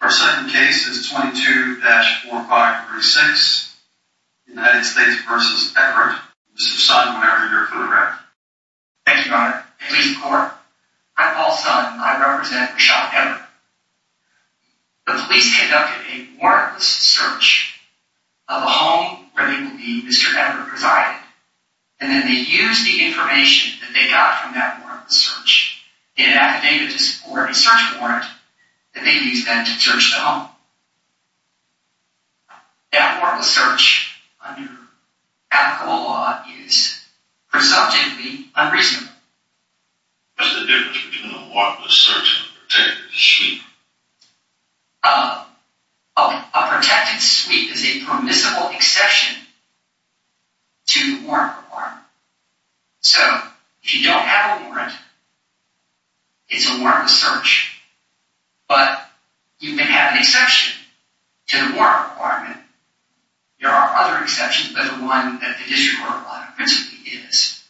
Our second case is 22-4536, United States v. Everett. Mr. Son, whenever you're ready. Thank you, Your Honor. I'm Paul Son. I represent Reshod Everett. The police conducted a warrantless search of a home where they believe Mr. Everett resided. And then they used the information that they got from that warrantless search in an affidavit to support a search warrant that they used then to search the home. That warrantless search under applicable law is presumptively unreasonable. What's the difference between a warrantless search and a protected sweep? A protected sweep is a permissible exception to the warrant requirement. So, if you don't have a warrant, it's a warrantless search. But you can have an exception to the warrant requirement. There are other exceptions, but the one that the district court law principally is.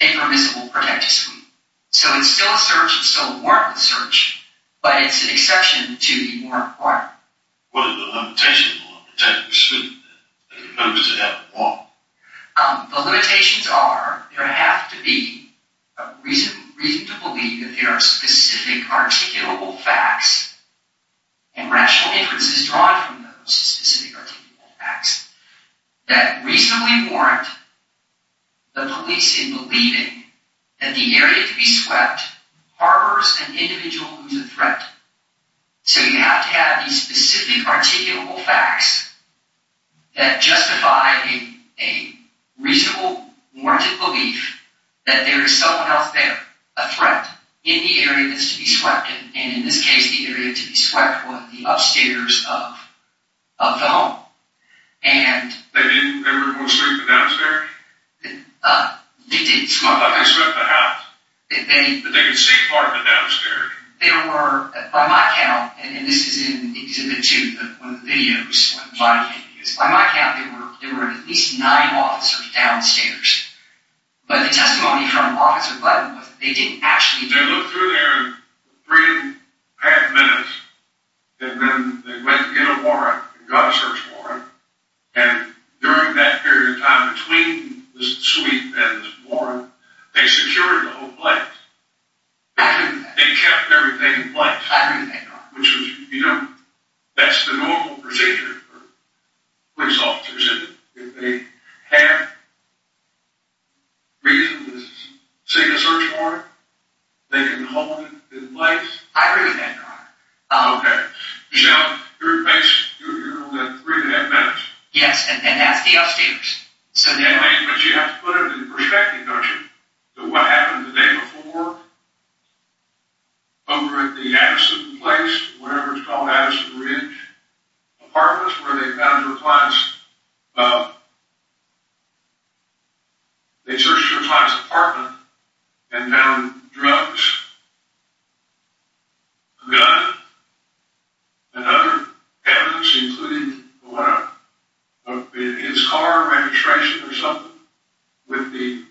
A permissible protected sweep. So it's still a search, it's still a warrantless search, but it's an exception to the warrant requirement. What are the limitations of a warrantless search? The limitations are there have to be a reason to believe that there are specific articulable facts and rational inferences drawn from those specific articulable facts that reasonably warrant the police in believing that the area to be swept harbors an individual who's a threat. So you have to have these specific articulable facts that justify a reasonable warranted belief that there is someone else there, a threat, in the area that's to be swept. And in this case, the area to be swept was the upstairs of the home. They didn't ever go sweep the downstairs? They did. They swept the house? They could see part of the downstairs? By my count, and this is in Exhibit 2, one of the videos, by my count, there were at least nine officers downstairs. But the testimony from Officer Glenn was that they didn't actually... They looked through there in three and a half minutes, and then they went to get a warrant, a gun search warrant, and during that period of time between the sweep and the warrant, they secured the whole place. They kept everything in place. I agree with that, Your Honor. Which was, you know, that's the normal procedure for police officers, isn't it? If they have reason to seek a search warrant, they can hold it in place. I agree with that, Your Honor. Okay. Now, you're only at three and a half minutes. Yes, and that's the upstairs. But you have to put it in perspective, don't you? What happened the day before over at the Addison Place, whatever it's called, Addison Ridge Apartments, where they found their client's... They searched their client's apartment and found drugs, a gun, and other evidence, including his car registration or something, with the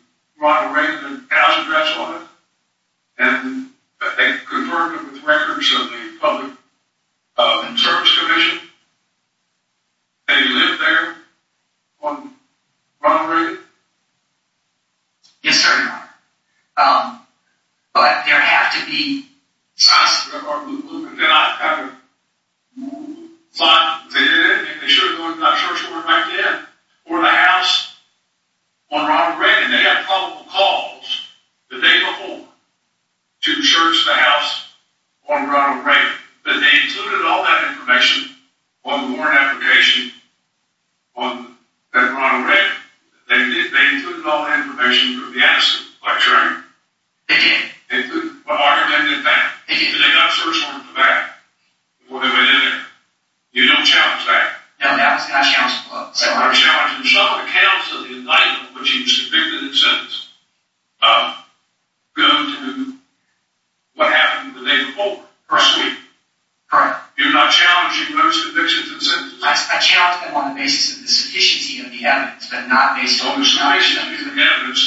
Ronald Reagan house address on it, and they confirmed it with records of the Public Service Commission. They lived there on Ronald Reagan? Yes, sir, Your Honor. But there have to be... They did it, and they should have gone and got a search warrant right then, or the house, on Ronald Reagan. They had probable cause the day before to search the house on Ronald Reagan, but they included all that information on the warrant application on Ronald Reagan. They included all that information from the Addison? They did. But why did they do that? Because they got a search warrant for that before they went in there. You don't challenge that? No, that was not challenged, Your Honor. You're not challenging some of the counts of the indictment, which he was convicted and sentenced, of going to what happened the day before, first week? Correct. You're not challenging those convictions and sentences? I challenge them on the basis of the sufficiency of the evidence, but not based on... On the sufficiency of the evidence.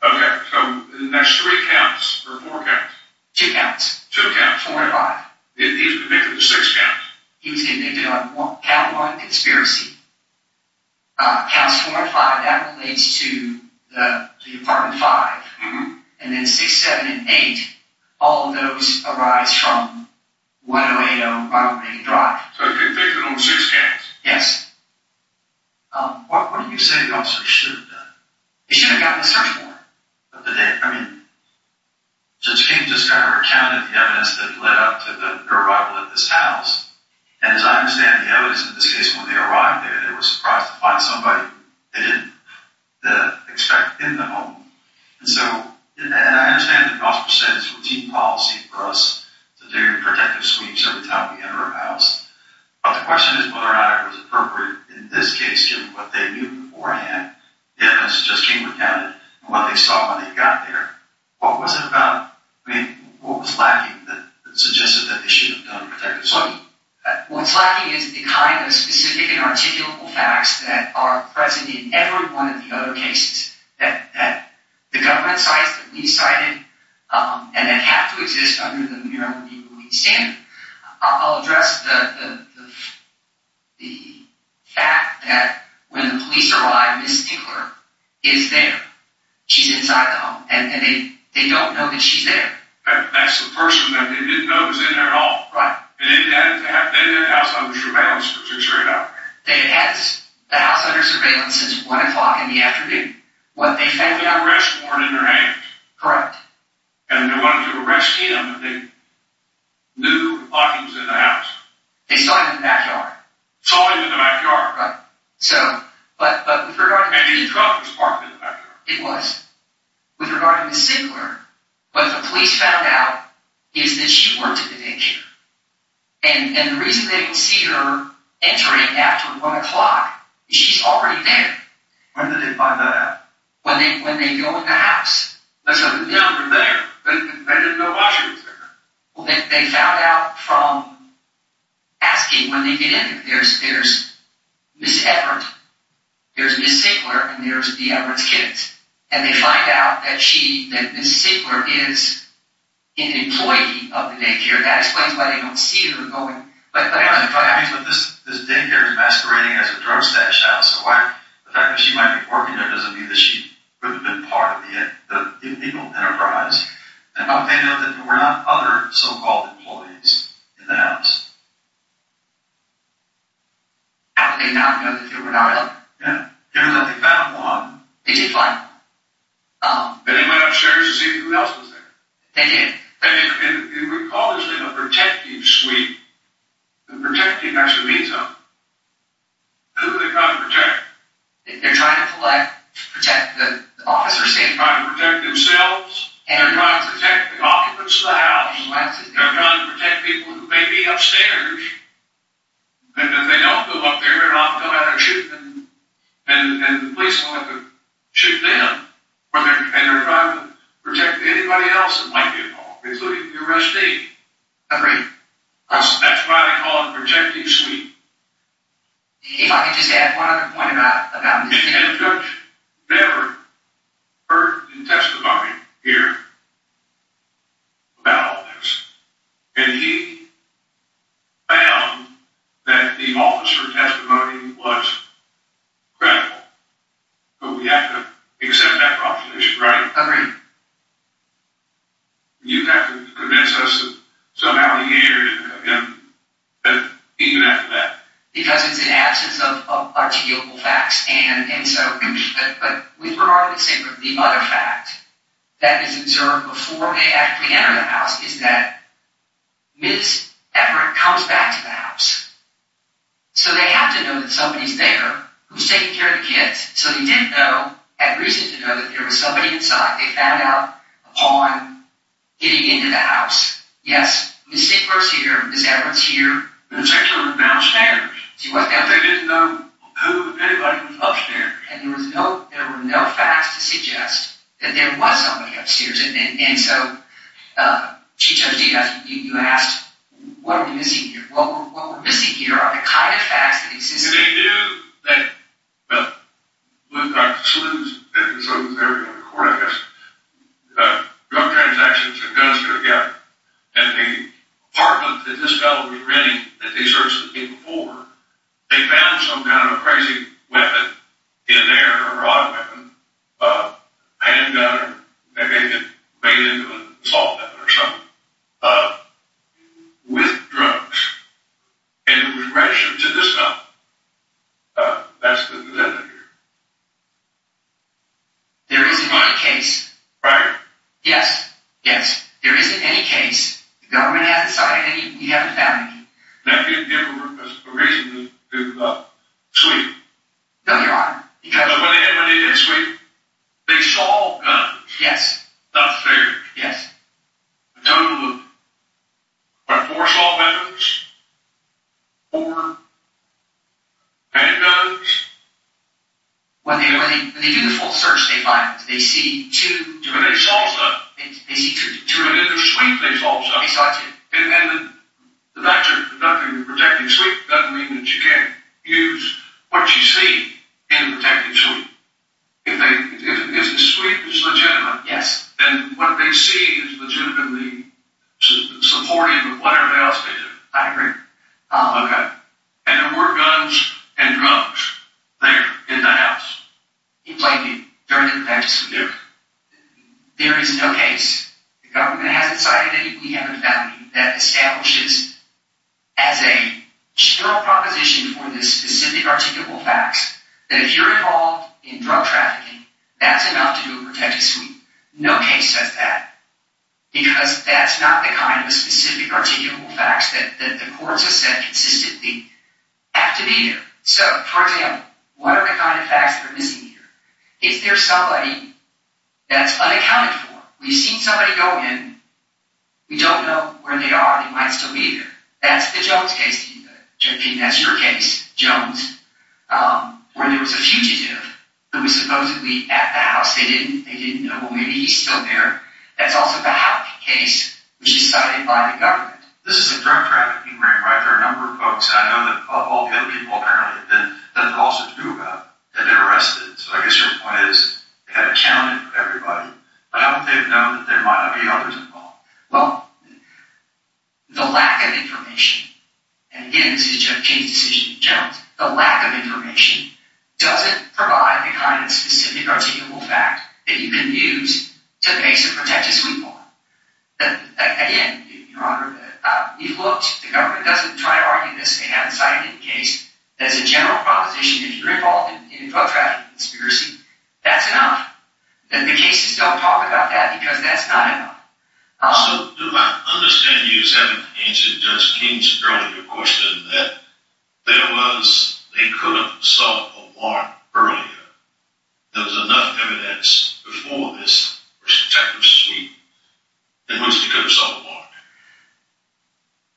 Okay, so that's three counts, or four counts? Two counts. Two counts. Four and five. He was convicted of six counts. He was convicted on count one, conspiracy. Counts four and five, that relates to the apartment five. And then six, seven, and eight, all of those arise from 108 on Ronald Reagan Drive. So he was convicted on six counts. Yes. What do you say the officer should have done? He should have gotten a search warrant. But did they? I mean, Judge King just kind of recounted the evidence that led up to their arrival at this house, and as I understand the evidence, in this case, when they arrived there, they were surprised to find somebody they didn't expect in the home. And so, and I understand that the officer said it's routine policy for us to do protective sweeps every time we enter a house. But the question is whether or not it was appropriate in this case, given what they knew beforehand, the evidence that Judge King recounted, and what they saw when they got there. What was it about, I mean, what was lacking that suggested that they should have done a protective sweep? What's lacking is the kind of specific and articulable facts that are present in every one of the other cases that the government cites, that we cited, and that have to exist under the Maryland Legal Aid standard. I'll address the fact that when the police arrived, Ms. Tickler is there. She's inside the home. And they don't know that she's there. That's the person that they didn't know was in there at all. Right. And they had the house under surveillance for six straight hours. They had the house under surveillance since 1 o'clock in the afternoon. When the arrests weren't in their hands. Correct. And they wanted to arrest him, but they knew Hawkins was in the house. They saw him in the backyard. Saw him in the backyard. Right. So, but with regard to Ms. Tickler. Maybe the truck was parked in the backyard. It was. With regard to Ms. Tickler, what the police found out is that she worked at the daycare. And the reason they didn't see her entering after 1 o'clock is she's already there. When did they find that out? When they go in the house. That's how they found her there. They didn't know why she was there. They found out from asking when they get in. There's Ms. Everett. There's Ms. Tickler. And there's the Everett's kids. And they find out that Ms. Tickler is an employee of the daycare. That explains why they don't see her going. But this daycare is masquerading as a drug stash house. So the fact that she might be working there doesn't mean that she would have been part of the illegal enterprise. And how would they know that there were not other so-called employees in the house? How would they not know that there were not other? Yeah. Given that they found one. They did find one. Then they went upstairs to see who else was there. They did. And we call this thing a protective suite. And protecting has to mean something. Who are they trying to protect? They're trying to protect the officers. They're trying to protect themselves. They're trying to protect the occupants of the house. They're trying to protect people who may be upstairs. And if they don't go up there, they're not going to shoot them. And the police won't have to shoot them. And they're trying to protect anybody else that might be involved, including the arrestee. Agreed. That's why we call it a protective suite. If I could just add one other point about this case. The judge never heard the testimony here about all this. And he found that the officer testimony was credible. But we have to accept that proposition, right? Agreed. You have to convince us that somehow the heir didn't come in. Even after that. Because it's in absence of articulable facts. But with regard to the other fact that is observed before they actually enter the house, is that Ms. Everett comes back to the house. So they have to know that somebody's there who's taking care of the kids. So they didn't know, at reason to know, that there was somebody inside. They found out upon getting into the house. Yes, Ms. Sieck was here. Ms. Everett's here. Ms. Sieck was downstairs. She wasn't downstairs. They didn't know who, if anybody, was upstairs. And there were no facts to suggest that there was somebody upstairs. And so, Chief Judge, you asked, what are we missing here? What we're missing here are the kind of facts that exist. And they knew that, well, Dr. Sleuth was there on the court, I guess. Drug transactions and guns were gathered. And the apartment that this fellow was renting, that they searched the day before, they found some kind of crazy weapon in there, a rod weapon, a handgun. And they made it into an assault weapon or something, with drugs. And it was rationed to this fellow. That's the defendant here. There isn't any case. Right. Yes. Yes. There isn't any case. The government hasn't cited any. You haven't found any. Now, give them a reason to sweep. No, Your Honor, because they saw guns. Yes. That's fair. Yes. A total of what, four assault weapons? Four handguns? When they do the full search, they find, they see two. But they saw some. They see two. But in the sweep, they saw some. They saw two. And the fact that you're protecting the sweep doesn't mean that you can't use what you see in the protective sweep. If the sweep is legitimate, then what they see is legitimately supportive of whatever else they did. I agree. Okay. And there were guns and drugs there, in the house. He played me. During the defense, there is no case. The government hasn't cited any. We haven't found any. That establishes, as a general proposition for the specific articulable facts, that if you're involved in drug trafficking, that's enough to do a protective sweep. No case says that. Because that's not the kind of specific articulable facts that the courts have said consistently have to be there. So, for example, what are the kind of facts that are missing here? Is there somebody that's unaccounted for? We've seen somebody go in. We don't know where they are. They might still be there. That's the Jones case. I think that's your case, Jones, where there was a fugitive who was supposedly at the house. They didn't know. Well, maybe he's still there. That's also the Houck case, which is cited by the government. This is a drug trafficking ring, right? There are a number of folks. And I know that of all the other people, apparently, there's nothing else to do about it. And they're arrested. So I guess your point is they've got to count everybody. But haven't they known that there might not be others involved? Well, the lack of information, and again, this is James' decision in Jones, the lack of information doesn't provide the kind of specific articulable fact that you can use to base a protective suit upon. Again, Your Honor, we've looked. The government doesn't try to argue this. They haven't cited any case. There's a general proposition if you're involved in a drug trafficking conspiracy, that's enough. And the cases don't talk about that because that's not enough. So do I understand you as having answered Judge King's earlier question that there was, they could have sought a warrant earlier. There was enough evidence before this protective suit in which they could have sought a warrant.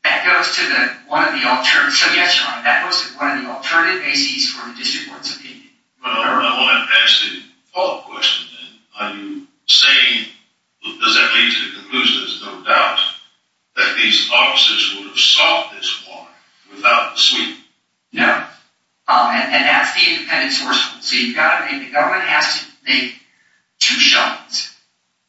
That goes to one of the alternative. So, yes, Your Honor, that goes to one of the alternative bases for the district court's opinion. But I want to ask the follow-up question then. Are you saying, does that lead to the conclusion, there's no doubt, that these officers would have sought this warrant without the suit? No. And that's the independent source. So you've got to, and the government has to make two shots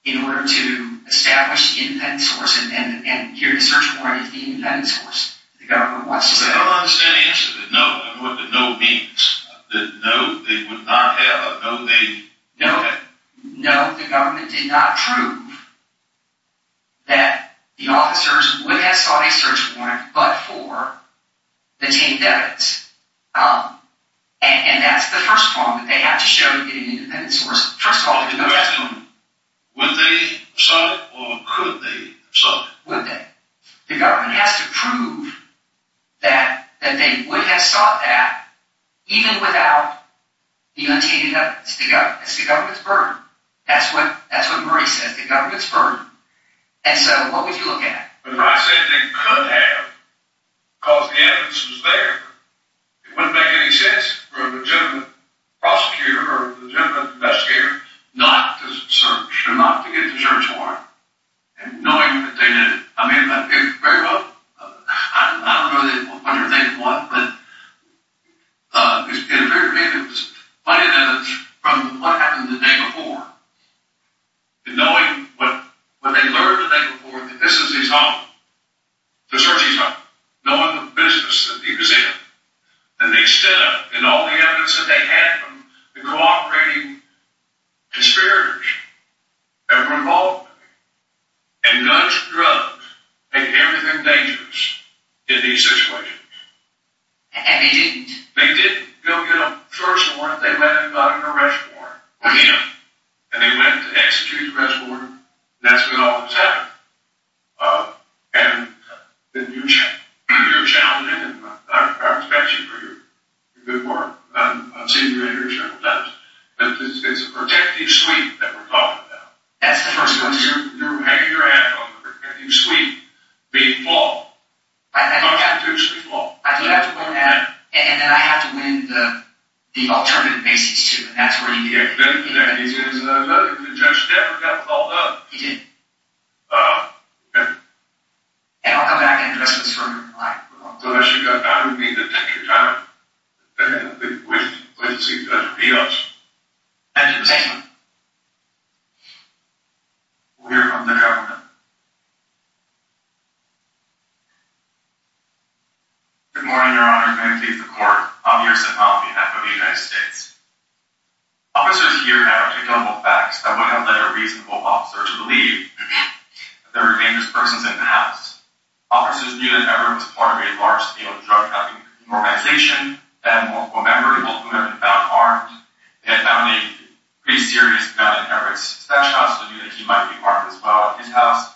in order to establish the independent source. And here the search warrant is the independent source. I don't understand the answer to no and what the no means. No, they would not have. No, the government did not prove that the officers would have sought a search warrant but for the teen devils. And that's the first point that they have to show to get an independent source. First of all, would they have sought it or could they have sought it? Would they? The government has to prove that they would have sought that even without the untainted evidence. It's the government's burden. That's what Murray says, the government's burden. And so what would you look at? If I said they could have because the evidence was there, it wouldn't make any sense for a legitimate prosecutor or a legitimate investigator not to search or not to get the search warrant. And knowing that they did it, I mean, very well, I don't know what they did what, but it was funny that from what happened the day before and knowing what they learned the day before that this is his home, they're searching his home. Knowing the business that he was in, that they stood up and all the evidence that they had from the cooperating conspirators that were involved with him, and guns and drugs made everything dangerous in these situations. And they didn't. They didn't. You know, first of all, if they let anybody in a restaurant, and they went to execute the restaurant, that's when all this happened. And then you're challenged, and I respect you for your good work. I've seen you in here several times. It's a protective suite that we're talking about. That's the first one, too. You're hanging your hat on the protective suite being flawed. Constitutionally flawed. I do have to win that, and then I have to win the alternative basis, too, and that's where you get it. The judge never got called up. He didn't. Oh, okay. And I'll come back and address this for you. Unless you've got time, you need to take your time. And I think we should wait and see if the judge will beat us. Thank you for taking the time. We'll hear from the government. Good morning, Your Honor. Ben Keith, the court. I'm here to sit on behalf of the United States. Officers here have articulable facts that would have led a reasonable officer to believe that there were dangerous persons in the house. Officers knew that Everett was part of a large-scale drug trafficking organization. They had multiple members, both of whom had been found armed. They had found a pretty serious gun in Everett's stash house. They knew that he might be part of this while at his house.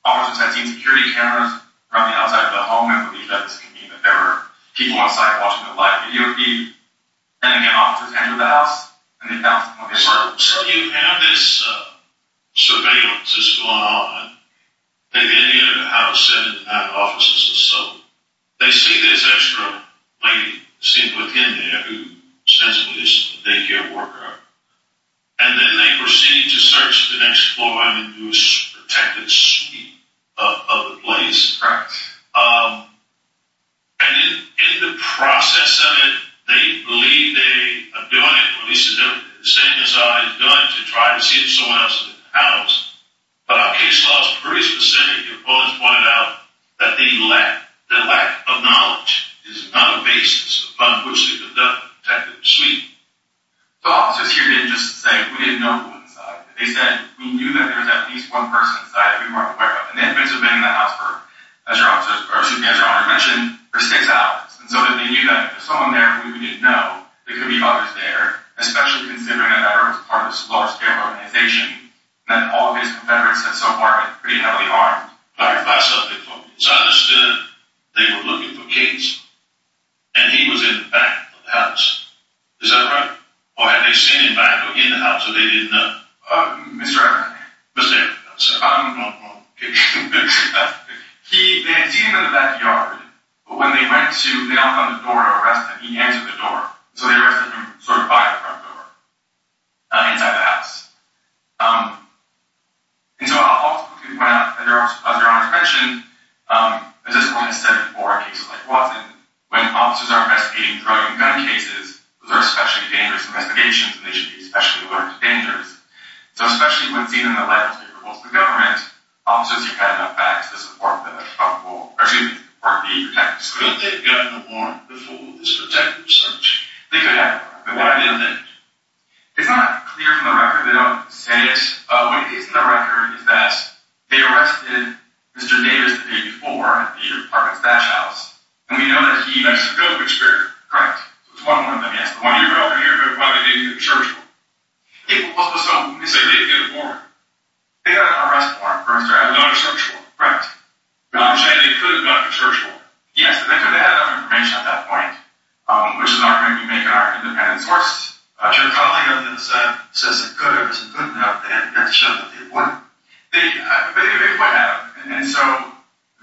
Officers had seen security cameras from the outside of the home and believed that this could mean that there were people outside watching the live video feed. Then again, officers entered the house, and they found something on the floor. So you have this surveillance that's going on. They then enter the house and have officers assault. They see this extra lady seen within there who ostensibly is a daycare worker, and then they proceed to search the next four women who were protected of the place. Correct. And in the process of it, they believe they are doing it, or at least they're saying to try to see if someone else is in the house. But our case law is pretty specific. Your opponents pointed out that the lack of knowledge is not a basis upon which they conduct a detective suite. The officers here didn't just say, we didn't know who was inside. They said, we knew that there was at least one person inside that we weren't aware of. And they had been surveilling the house, as your Honor mentioned, for six hours. And so they knew that if there was someone there who we didn't know, there could be others there, especially considering that that was part of this large-scale organization, and that all of his confederates had so far been pretty heavily armed. If I can clarify something for me. It's understood they were looking for Cates, and he was in the back of the house. Is that correct? Or had they seen him back or in the house, so they didn't know? Mr. Everett. Mr. Everett, I'm sorry. No, no, no. Okay. They had seen him in the backyard, but when they went to, they knocked on the door to arrest him. And he answered the door. So they arrested him sort of by the front door, inside the house. And so I'll quickly point out, as your Honor mentioned, at this point in 7-4, cases like Watson, when officers are investigating drug and gun cases, those are especially dangerous investigations, and they should be especially alerted to dangers. So especially when seen in the lighthouse, they report to the government. Officers, you've had enough facts to support them. Excuse me. Could they have gotten the warrant before this particular search? They could have. But why didn't they? It's not clear from the record. They don't say it. What it is in the record is that they arrested Mr. Davis the day before, at the apartment's back house. And we know that he met Mr. Gilbert, correct? Correct. So it's one of them, yes. The one you're referring to, but probably they didn't get a search warrant. Also, so when they say they didn't get a warrant, they got an arrest warrant for Mr. Everett. They don't have a search warrant. Correct. But I'm saying they could have gotten a search warrant. Yes, they could have. They had enough information at that point, which is not going to be made in our independent source. But your colleague on the other side says they could have, but they didn't have the evidence to show that they would have. They could have. And so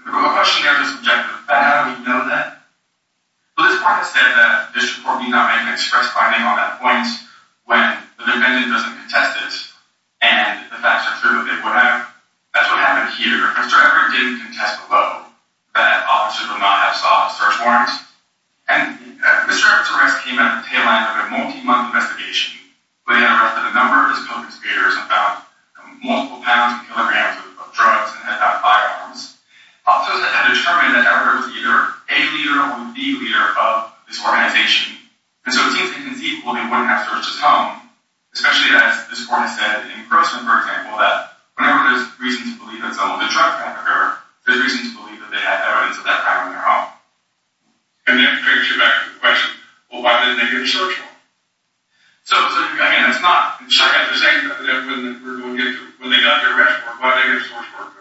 the question there is objective. But how do we know that? Well, this part has said that this report did not make an express finding on that point when the defendant doesn't contest it and the facts are clear that they would have. That's what happened here. Mr. Everett did contest below that officers would not have sought a search warrant. And Mr. Everett's arrest came at the tail end of a multi-month investigation where they had arrested a number of his co-consecutors and found multiple pounds and kilograms of drugs and had found firearms. Officers had determined that Everett was either a leader or the leader of this organization. And so it seems inconceivable that he wouldn't have searched his home, especially as this report has said in Grossman, for example, that whenever there's reason to believe that some of the drugs were on their home, there's reason to believe that they had evidence of that firearm on their home. And that takes you back to the question, well, why didn't they get a search warrant? So, I mean, it's not like they're saying that when they got their arrest report, why didn't they get a search warrant?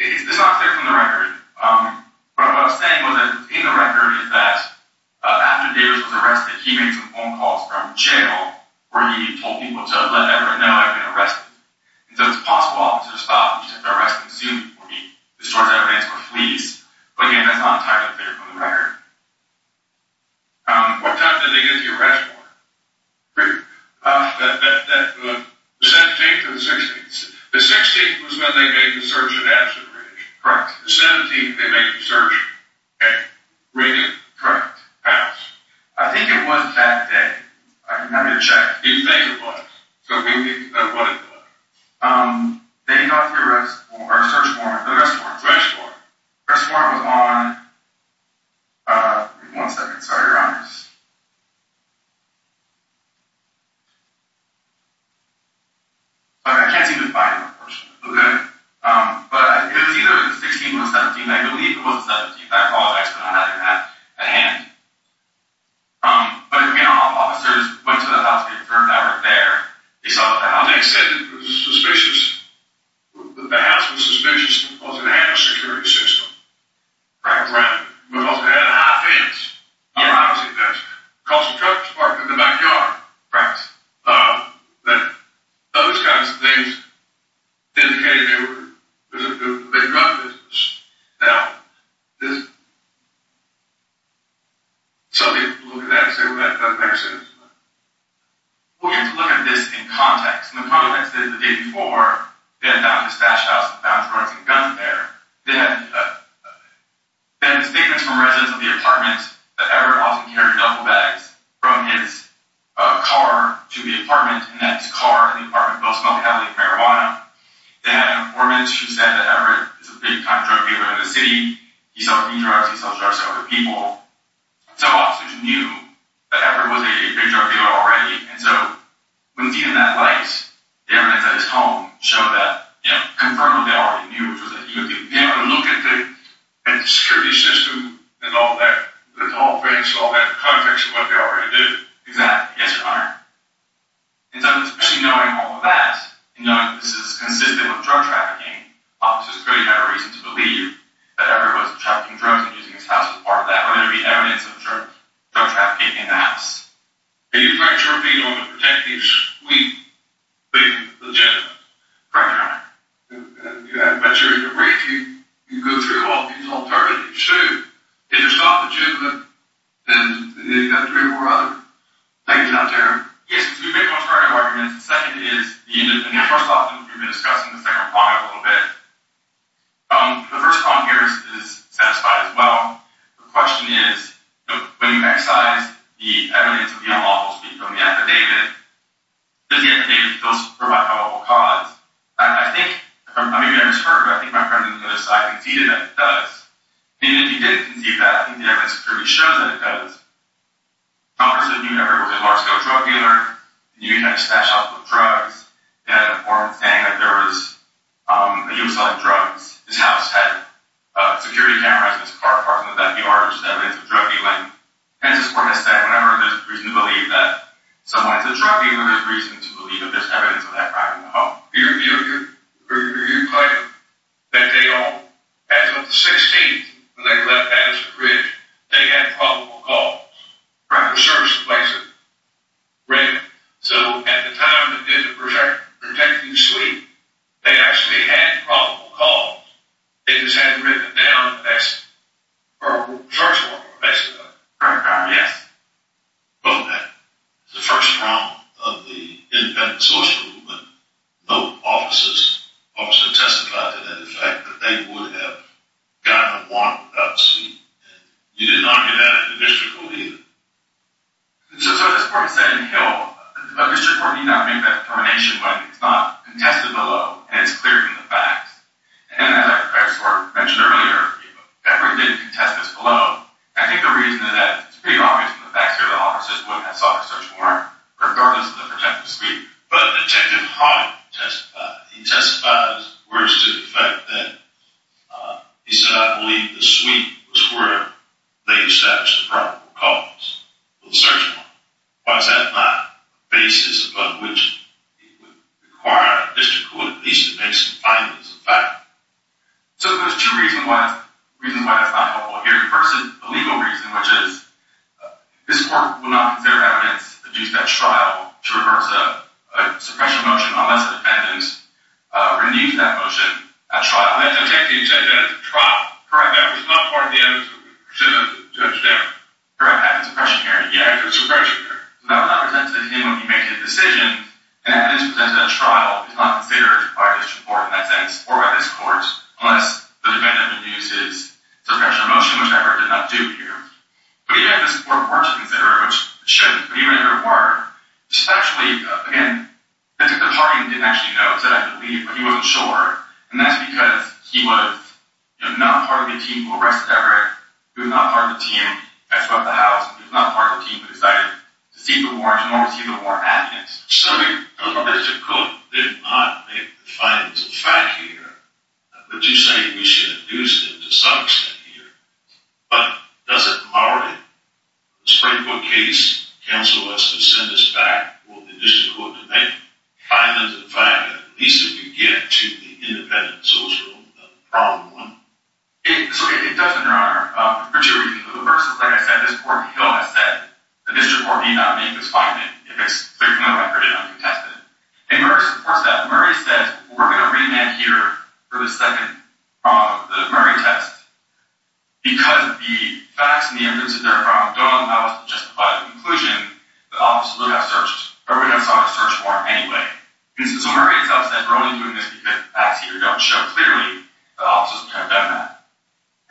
It's not clear from the record. What I was saying was that in the record is that after Davis was arrested, he made some phone calls from jail where he told people to let Everett know he had been arrested. And so it's possible that officers thought he was going to have to arrest him soon before he distorts evidence or flees. But again, that's not entirely clear from the record. What time did they get the arrest warrant? The 17th or the 16th? The 16th was when they made the search and absolution. Correct. The 17th they made the search. Okay. Reading? Correct. I think it was that day. Let me check. Did you think it was? Because we didn't know what it was. They got their search warrant. The arrest warrant. Arrest warrant. Arrest warrant was on, one second, sorry to interrupt. I can't seem to find it, unfortunately. Okay. But it was either the 16th or the 17th. I believe it was the 17th. I apologize, but I didn't have a hand. But again, officers went to the house. They confirmed that they were there. They saw the house. They said it was suspicious. The house was suspicious because it had a security system. Correct. Grounded. Because it had a high fence. Yeah. Because the truck parked in the backyard. Correct. Those kinds of things indicated it was a big drug business. So, look at that and say, well, that doesn't make sense. We'll get to look at this in context. In the context that the day before, they had found his stash house and found drugs and guns there. They had statements from residents of the apartment that Everett often carried duffel bags from his car to the apartment, and that his car and the apartment both smelled heavily of marijuana. They had an informant who said that Everett is a big-time drug dealer in the city. He sells e-drugs. He sells drugs to other people. So, officers knew that Everett was a big drug dealer already. And so, when seen in that light, the evidence at his home showed that, you know, confirmed what they already knew, which was that he would be able to look at the security system and all that, the tall fence, all that context of what they already knew. Exactly. Yes, Your Honor. And so, especially knowing all of that, and knowing that this is consistent with drug trafficking, officers clearly have a reason to believe that Everett was trafficking drugs and using his house as part of that, whether it be evidence of drug trafficking in the house. Correct, Your Honor. But your brief, you go through all these alternatives. It's true. If you're stopped at juvenile, then you've got three more other things out there. Yes. So, we've made contrary arguments. The second is, you know, first off, we've been discussing the second prong of it a little bit. The first prong here is satisfied as well. The question is, when you excise the evidence of the unlawful speaking from the affidavit, does the affidavit still provide a probable cause? I think, maybe I misheard, but I think my friend on the other side conceded that it does. And even if he didn't concede that, I think the evidence clearly shows that it does. Officers that knew Everett were a large-scale drug dealer, knew he had a stash of drugs. They had a form saying that he was selling drugs. His house had security cameras and his car parked in the back yard, which is evidence of drug dealing. Pension support has said whenever there's a reason to believe that someone is a drug dealer, whenever there's a reason to believe that there's evidence of that crime in the home, you're claiming that they are. As of the 16th, when they left Patterson Bridge, they had a probable cause. The crime of service in place was written. So, at the time they did the protecting sweep, they actually had a probable cause. They just hadn't written it down in the best, or the source of the best evidence. Well, that was the first round of the independent source movement. No officers testified to the fact that they would have gotten a warrant without the sweep. You did not hear that in the district court either. So, this court said in Hill, a district court need not make that determination when it's not contested below, and it's clear from the facts. And as I mentioned earlier, Everett didn't contest this below. I think the reason is that it's pretty obvious from the facts here that officers wouldn't have sought a search warrant, regardless of the protective sweep. But Detective Harden testified. He testified in words to the fact that he said, I believe the sweep was where they established the probable cause of the search warrant. Why is that not the basis above which it would require a district court at least to make some findings about it? So, there's two reasons why it's not helpful here. The first is the legal reason, which is, this court will not consider evidence that due to that trial to reverse a suppression motion unless the defendant renews that motion at trial. That's what Detective said, that it's a trial. Correct, that was not part of the evidence that we presented to the judge there. Correct. After the suppression hearing. Yeah, after the suppression hearing. So, that would not be presented to him when he made his decision, and evidence presented at trial is not considered by a district court in that sense, or by this court, unless the defendant renews his suppression motion, which I heard did not do here. But even if this court were to consider it, which it shouldn't, but even if it were, Detective Harden didn't actually know. He said, I believe, but he wasn't sure. And that's because he was not part of the team who arrested Everett. He was not part of the team that swept the house. He was not part of the team who decided to seek the warrant, nor was he the warrant advocate. So, if the district court did not make the findings of fact here, would you say we should have used it to some extent here? But does it already, in the Springfield case, counsel us to send this back for the district court to make the findings of fact that at least it would get to the independent social problem? So, it does, Your Honor. For two reasons. The first is, like I said, this court has said the district court need not make this finding if it's clear from the record and uncontested. And Murray supports that. Murray said, we're going to remand here for the second, the Murray test, because the facts and the evidence that they're from don't allow us to justify the conclusion that officers would have searched, or would have sought a search warrant anyway. So, Murray himself said, we're only doing this because the facts here don't show clearly that officers would have done that.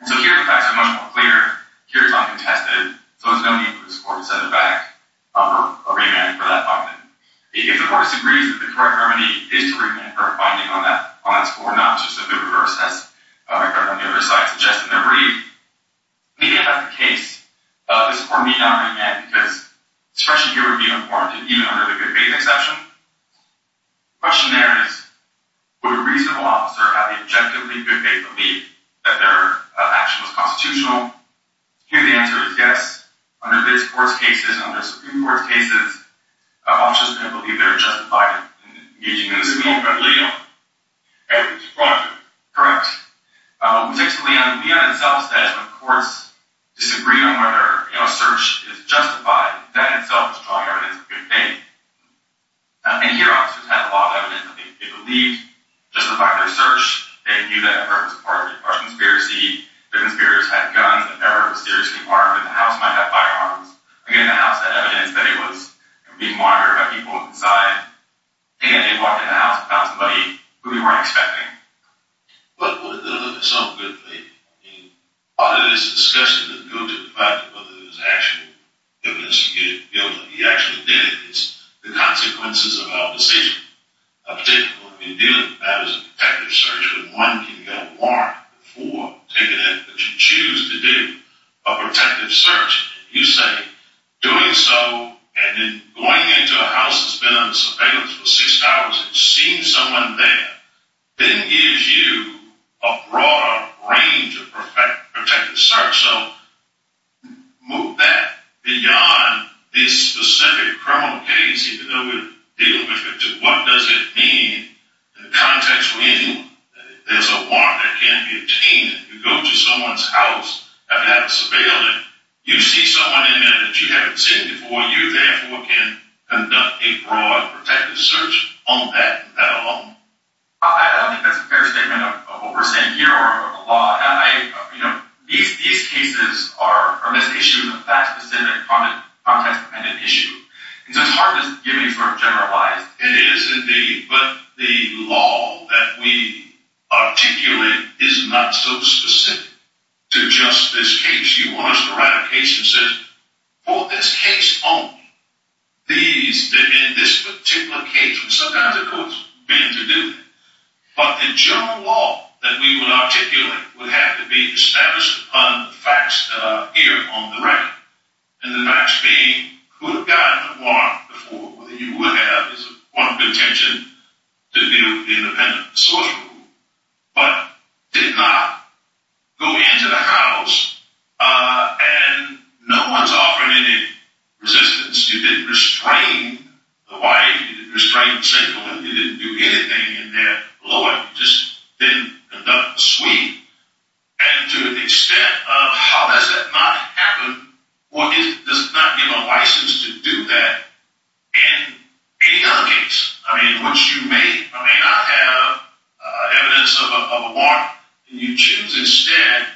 So, here the facts are much more clear. Here it's uncontested. So, there's no need for this court to send it back for a remand for that finding. If the court disagrees that the correct remedy is to remand for a finding on that score, not just a good reverse, as my colleague on the other side suggested in their brief, maybe that's the case. This court may not remand because this question here would be unformed, even under the good faith exception. The question there is, would a reasonable officer have the objectively good faith belief that their action was constitutional? Here the answer is yes. Under this court's cases, and under Supreme Court's cases, officers are going to believe they're justified in making this remand. Correct. We take it to Leon. Leon himself said when courts disagree on whether a search is justified, that in itself is drawing evidence of good faith. And here officers have a lot of evidence that they believed justified their search, they knew that a person was part of a conspiracy, the conspirators had guns, that there were serious firearms, that the house might have firearms. Again, the house had evidence that it was being monitored by people inside, and they walked in the house and found somebody who they weren't expecting. But with some good faith, I mean, a lot of this discussion doesn't go to the fact of whether there was actual evidence, you know, that he actually did it. It's the consequences of our decision. That is a protective search, but one can get a warrant for taking it, but you choose to do a protective search. You say doing so and then going into a house that's been under surveillance for six hours and seeing someone there, then gives you a broader range of protective search. So move that beyond this specific criminal case, even though we're dealing with it, to what does it mean in the context when there's a warrant that can't be obtained. You go to someone's house, have it under surveillance, you see someone in there that you haven't seen before, you therefore can conduct a broad protective search on that alone. I don't think that's a fair statement of what we're saying here or the law. You know, these cases are less issues than fact-specific, context-dependent issues. So it's hard to give me a generalize. It is indeed, but the law that we articulate is not so specific to just this case. You want us to write a case that says, for this case only, these, in this particular case, and sometimes the courts bend to do that, but the general law that we would articulate would have to be established on the facts that are here on the record, and the facts being who got the warrant before, whether you would have, is one of the intention to view the independent source rule, but did not go into the house, and no one's offering any resistance. You didn't restrain the wife. You didn't restrain the single woman. You didn't do anything in there. The lawyer just didn't conduct the sweep, and to the extent of how does that not happen, well, it does not give a license to do that in any other case. I mean, once you may or may not have evidence of a warrant, and you choose instead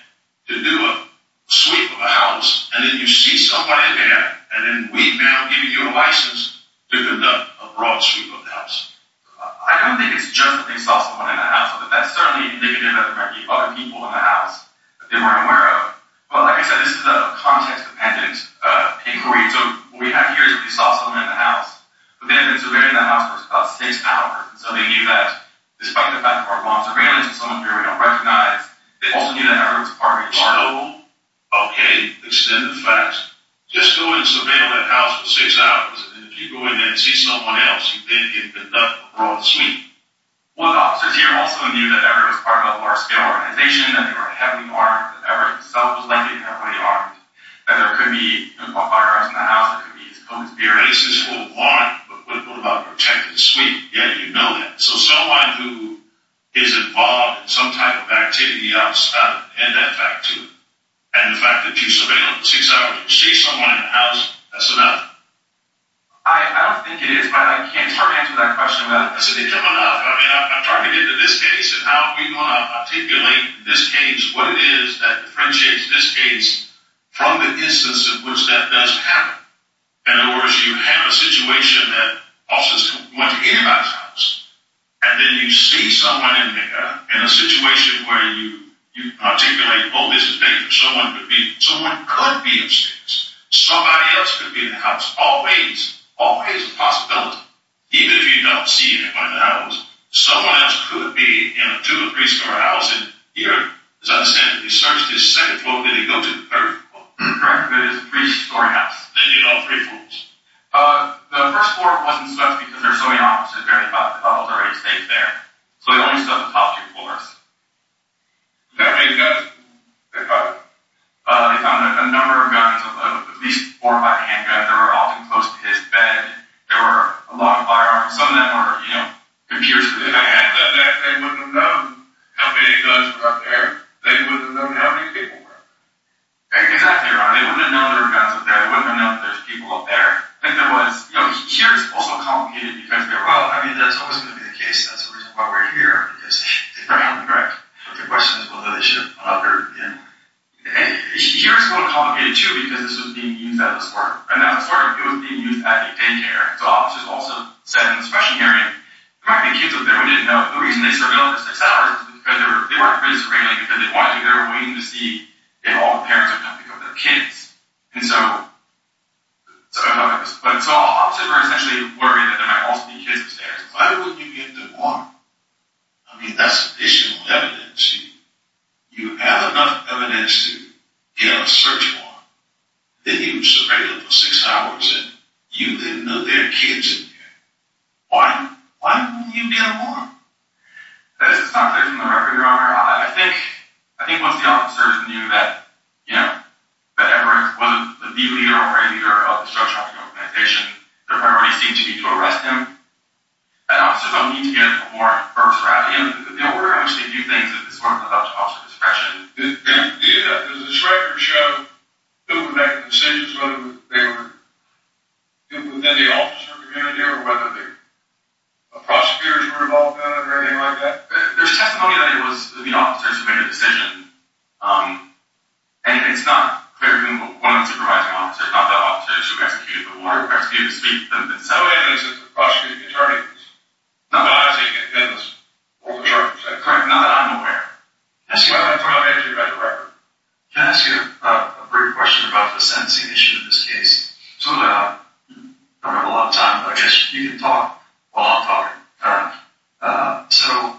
to do a sweep of a house, and then you see somebody there, and then we now give you a license to conduct a broad sweep of the house. I don't think it's just that they saw someone in the house, but that's certainly indicative that there might be other people in the house that they weren't aware of. Well, like I said, this is a context-dependent inquiry, so what we have here is that we saw someone in the house, but they had been surveilling the house for about six hours, and so they knew that, despite the fact that our law surveillance and some of it we don't recognize, they also knew that Everett was part of a large group. So, okay, extend the facts. Just go and surveil that house for six hours, and if you go in there and see someone else, you then get the broad sweep. Well, the officers here also knew that Everett was part of a large-scale organization, that they were heavily armed, that Everett himself was heavily armed, that there could be armed guards in the house, there could be police. The license was warranted, but what about a protected sweep? Yeah, you know that. So someone who is involved in some type of activity outside of it, add that back to it. And the fact that you surveilled six hours, you see someone in the house, that's enough. I don't think it is, but I can't answer that question. I said it's enough. I mean, I'm talking into this case and how we want to articulate this case, what it is that differentiates this case from the instance in which that does happen. In other words, you have a situation that officers went to anybody's house, and then you see someone in a situation where you articulate, oh, this is dangerous. Someone could be upstairs. Somebody else could be in the house. Always, always a possibility, even if you don't see anybody in the house. Someone else could be in a two- or three-story house. And here, as I understand it, you searched his second floor. Where did he go to? Third floor. Correct. It is a three-story house. Then you had all three floors. The first floor wasn't searched because there are so many officers there. The bubbles are already staked there. So they only searched the top two floors. How many guns did they find? They found a number of guns, at least four by handgun. They were often close to his bed. There were a lot of firearms. Some of them were computers. If they had that, they wouldn't have known how many guns were up there. They wouldn't have known how many people were up there. Exactly right. They wouldn't have known there were guns up there. They wouldn't have known there were people up there. Here it's also complicated because there's always going to be a case. That's the reason why we're here. Correct. But the question is whether they should have gone up there. Here it's a little complicated, too, because this was being used as a sort of daycare. So officers also said in the special hearing, there might be kids up there. We didn't know. The reason they surveilled it for six hours is because they weren't really surveilling because they wanted to. They were waiting to see if all the parents are coming because they're kids. So officers were essentially worried that there might also be kids upstairs. Why wouldn't you get the warrant? I mean, that's additional evidence. You have enough evidence to get a search warrant. They didn't surveil it for six hours, and you didn't know there were kids in there. Why wouldn't you get a warrant? That's not clear from the record, Your Honor. I think once the officers knew that Everett wasn't the leader or right leader of the search warrant organization, their priority seemed to be to arrest him. And officers don't need to get into a more perverse route. We're going to see a few things that this woman has up to officer discretion. Does this record show who made the decisions, whether they were within the officer community or whether the prosecutors were involved in it or anything like that? There's testimony that it was the officers who made the decision, and it's not clear who were the supervising officers, not the officers who executed the warrant or executed the speech. Some of the evidence is the prosecuting attorneys. Not that I'm aware of. Can I ask you a brief question about the sentencing issue in this case? I don't have a lot of time, but I guess you can talk while I'm talking. So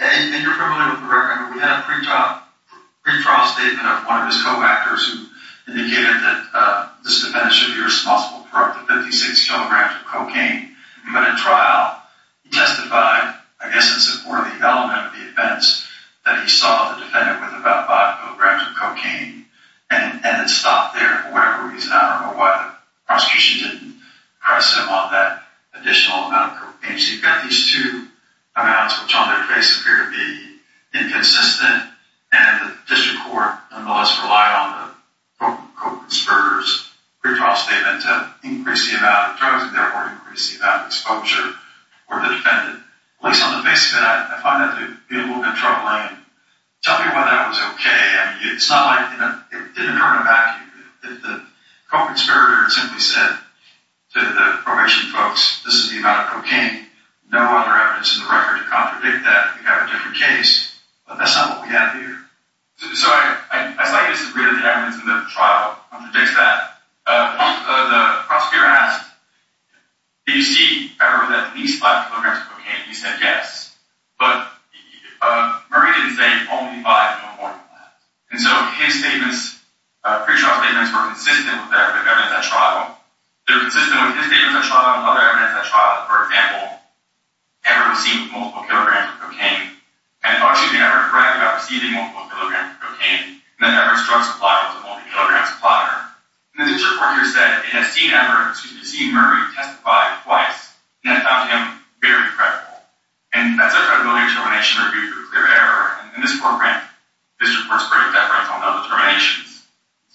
in your criminal record, we had a pretrial statement of one of his co-actors who indicated that this defendant should be responsible for up to 56 kilograms of cocaine. But in trial, he testified, I guess in support of the element of the offense, that he saw the defendant with about 5 kilograms of cocaine and then stopped there for whatever reason. I don't know why the prosecution didn't press him on that additional amount of cocaine. So you've got these two amounts, which on their face appear to be inconsistent, and the district court nonetheless relied on the co-conspirator's pretrial statement to increase the amount of drugs and therefore increase the amount of exposure for the defendant. At least on the face of it, I find that to be a little bit troubling. Tell me why that was okay. It's not like it didn't hurt him back. The co-conspirator simply said to the probation folks, this is the amount of cocaine. No other evidence in the record to contradict that. You have a different case. But that's not what we have here. So I slightly disagree that the evidence in the trial contradicts that. The prosecutor asked, did you see Everett with at least 5 kilograms of cocaine? He said yes. But Murray didn't say only 5, no more than that. And so his statements, pretrial statements, were consistent with the evidence at trial. They were consistent with his statements at trial and other evidence at trial. For example, Everett was seen with multiple kilograms of cocaine. And he thought she'd been Everett's friend without receiving multiple kilograms of cocaine. And that Everett's drug supply was a multi-kilogram supplier. And the district court here said it had seen Murray testify twice. And it found him very credible. And that's our credibility determination review for clear error. And in this court grant, district courts break that right down to other determinations.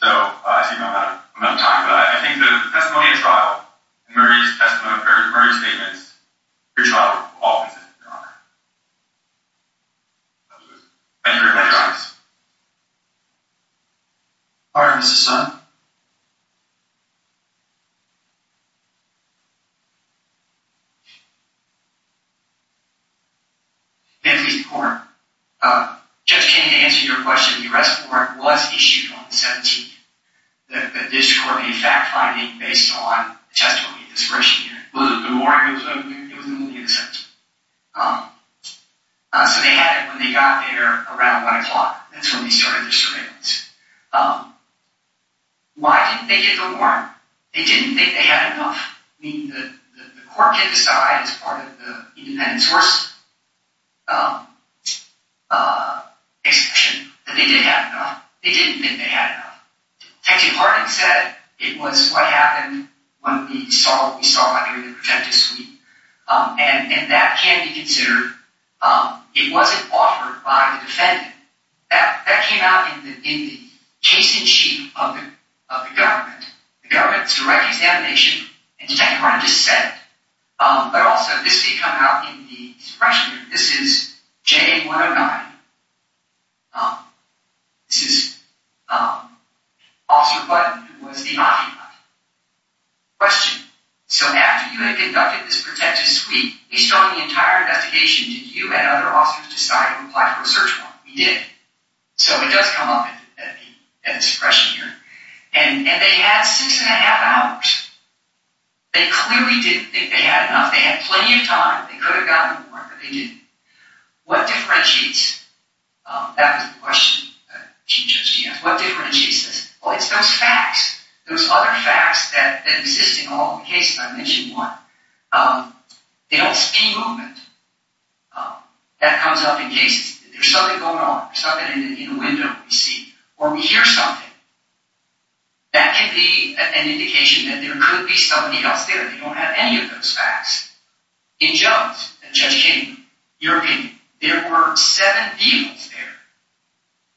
So I think I'm out of time for that. I think the testimony at trial and Murray's testimony, Murray's statements, your trial will all be consistent with your honor. Thank you very much. Court is adjourned. Pardon, Mr. Sun. May I please have the floor? Judge, can you answer your question? The arrest warrant was issued on the 17th. The district court made fact-finding based on the testimony of this person here. Was it the morning of the 17th? It was the morning of the 17th. So they had it when they got there around 1 o'clock. That's when they started their surveillance. Why didn't they get the warrant? They didn't think they had enough. The court could decide as part of the independent source exception that they did have enough. They didn't think they had enough. Detective Harden said it was what happened when we started the protective suite. And that can be considered, it wasn't offered by the defendant. That came out in the case in chief of the government. The government's direct examination, and Detective Harden just said it. But also, this did come out in the suppression group. This is J109. This is Officer Button, who was the occupant. Question. So after you had conducted this protective suite, based on the entire investigation, did you and other officers decide to apply for a search warrant? We did. So it does come up in the suppression here. And they had six and a half hours. They clearly didn't think they had enough. They had plenty of time. They could have gotten the warrant, but they didn't. What differentiates? That was the question. What differentiates this? Well, it's those facts. Those other facts that exist in all the cases I mentioned. They don't see movement. That comes up in cases. There's something going on, something in the window we see. Or we hear something. That can be an indication that there could be somebody else there. They don't have any of those facts. In Jones, Judge King, European, there were seven people there.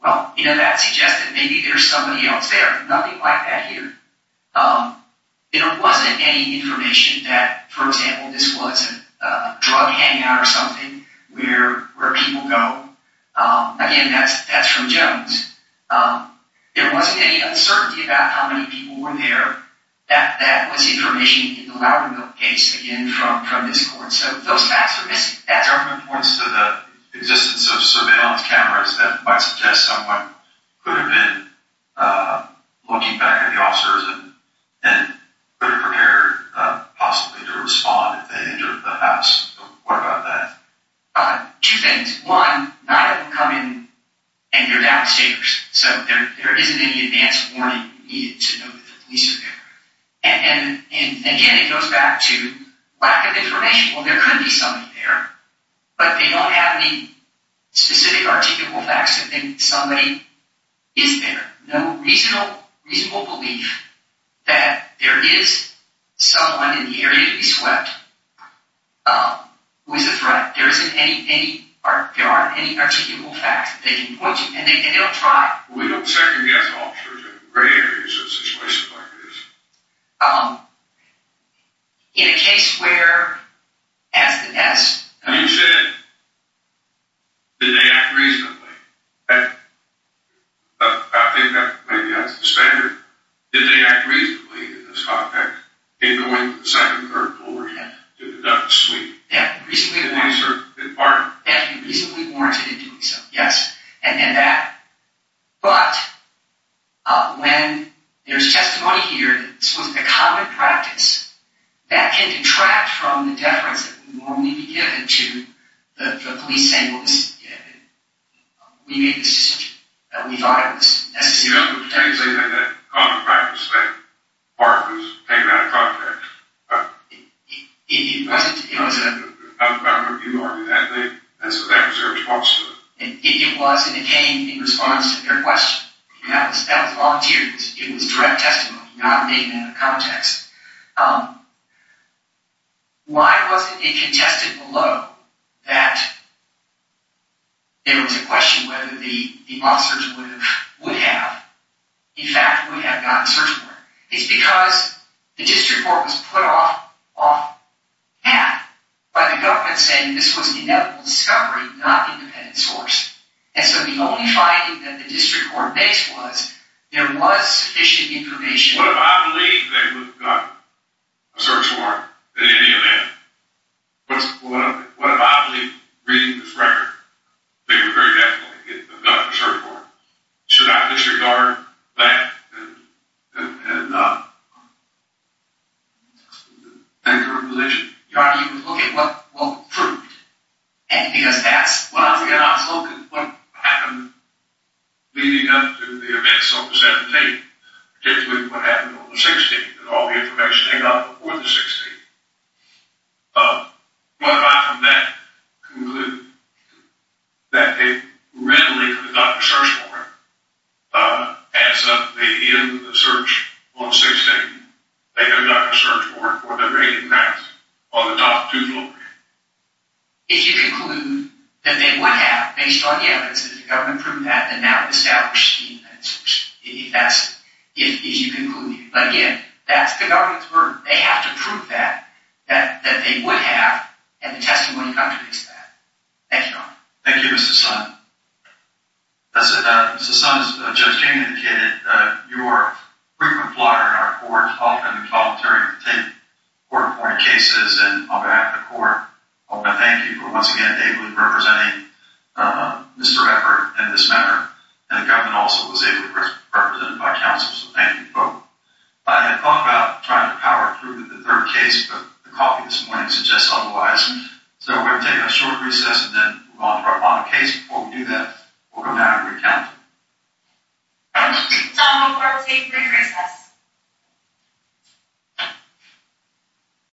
Well, you know, that suggests that maybe there's somebody else there. Nothing like that here. There wasn't any information that, for example, this was a drug hangout or something where people go. Again, that's from Jones. There wasn't any uncertainty about how many people were there. That was information in the Loudenville case, again, from this court. So those facts are missing. Different points to the existence of surveillance cameras that might suggest someone could have been looking back at the officers and could have prepared possibly to respond if they entered the house. What about that? Two things. One, not able to come in, and they're downstairs. So there isn't any advance warning needed to know that the police are there. And, again, it goes back to lack of information. Well, there could be somebody there, but they don't have any specific articulable facts to think somebody is there. No reasonable belief that there is someone in the area to be swept who is a threat. There aren't any articulable facts that they can point to, and they don't try. We don't second-guess officers in rare cases and situations like this. In a case where, as you said, did they act reasonably? I think that maybe that's the standard. Did they act reasonably in this context in going to the second or third floor to conduct a sweep? Yeah, reasonably warranted in doing so, yes. But when there's testimony here that this was a common practice, that can detract from the deference that would normally be given to the police saying, well, we made this decision, that we thought it was necessary to protect. You don't have to say that it's a common practice that a warrant was taken out of context. It wasn't. I'm not going to argue that. That was their response to it. It was, and it came in response to their question. That was volunteered. It was direct testimony, not taken out of context. Why was it contested below that there was a question whether the officers would have, in fact, would have gotten search warrant? It's because the district court was put off half by the government saying that this was an inevitable discovery, not independent source. And so the only finding that the district court makes was there was sufficient information. What if I believe they would have gotten a search warrant in any event? What if I believe, reading this record, they would very definitely have gotten a search warrant? Should I disregard that and enter a religion? Because that's what happened leading up to the events of the 17th, particularly what happened on the 16th and all the information they got before the 16th. What if I from that conclude that they readily could have gotten a search warrant at the end of the search on the 16th? They could have gotten a search warrant for the great mass on the top two floors? If you conclude that they would have, based on the evidence that the government proved that, then that would establish the search. If that's what you concluded. But again, that's the government's word. They have to prove that, that they would have, and the testimony contradicts that. Thank you, Your Honor. Thank you, Mr. Sun. Mr. Sun, as Judge King indicated, you are a frequent flyer in our court, often volunteering to take court-appointed cases, and on behalf of the court, I want to thank you for once again ably representing Mr. Eppert in this matter. And the government also was ably represented by counsel, so thank you both. I had thought about trying to power through with the third case, but the coffee this morning suggests otherwise. So we're going to take a short recess and then move on to our final case. Before we do that, we'll go down and recount. So we'll take a brief recess.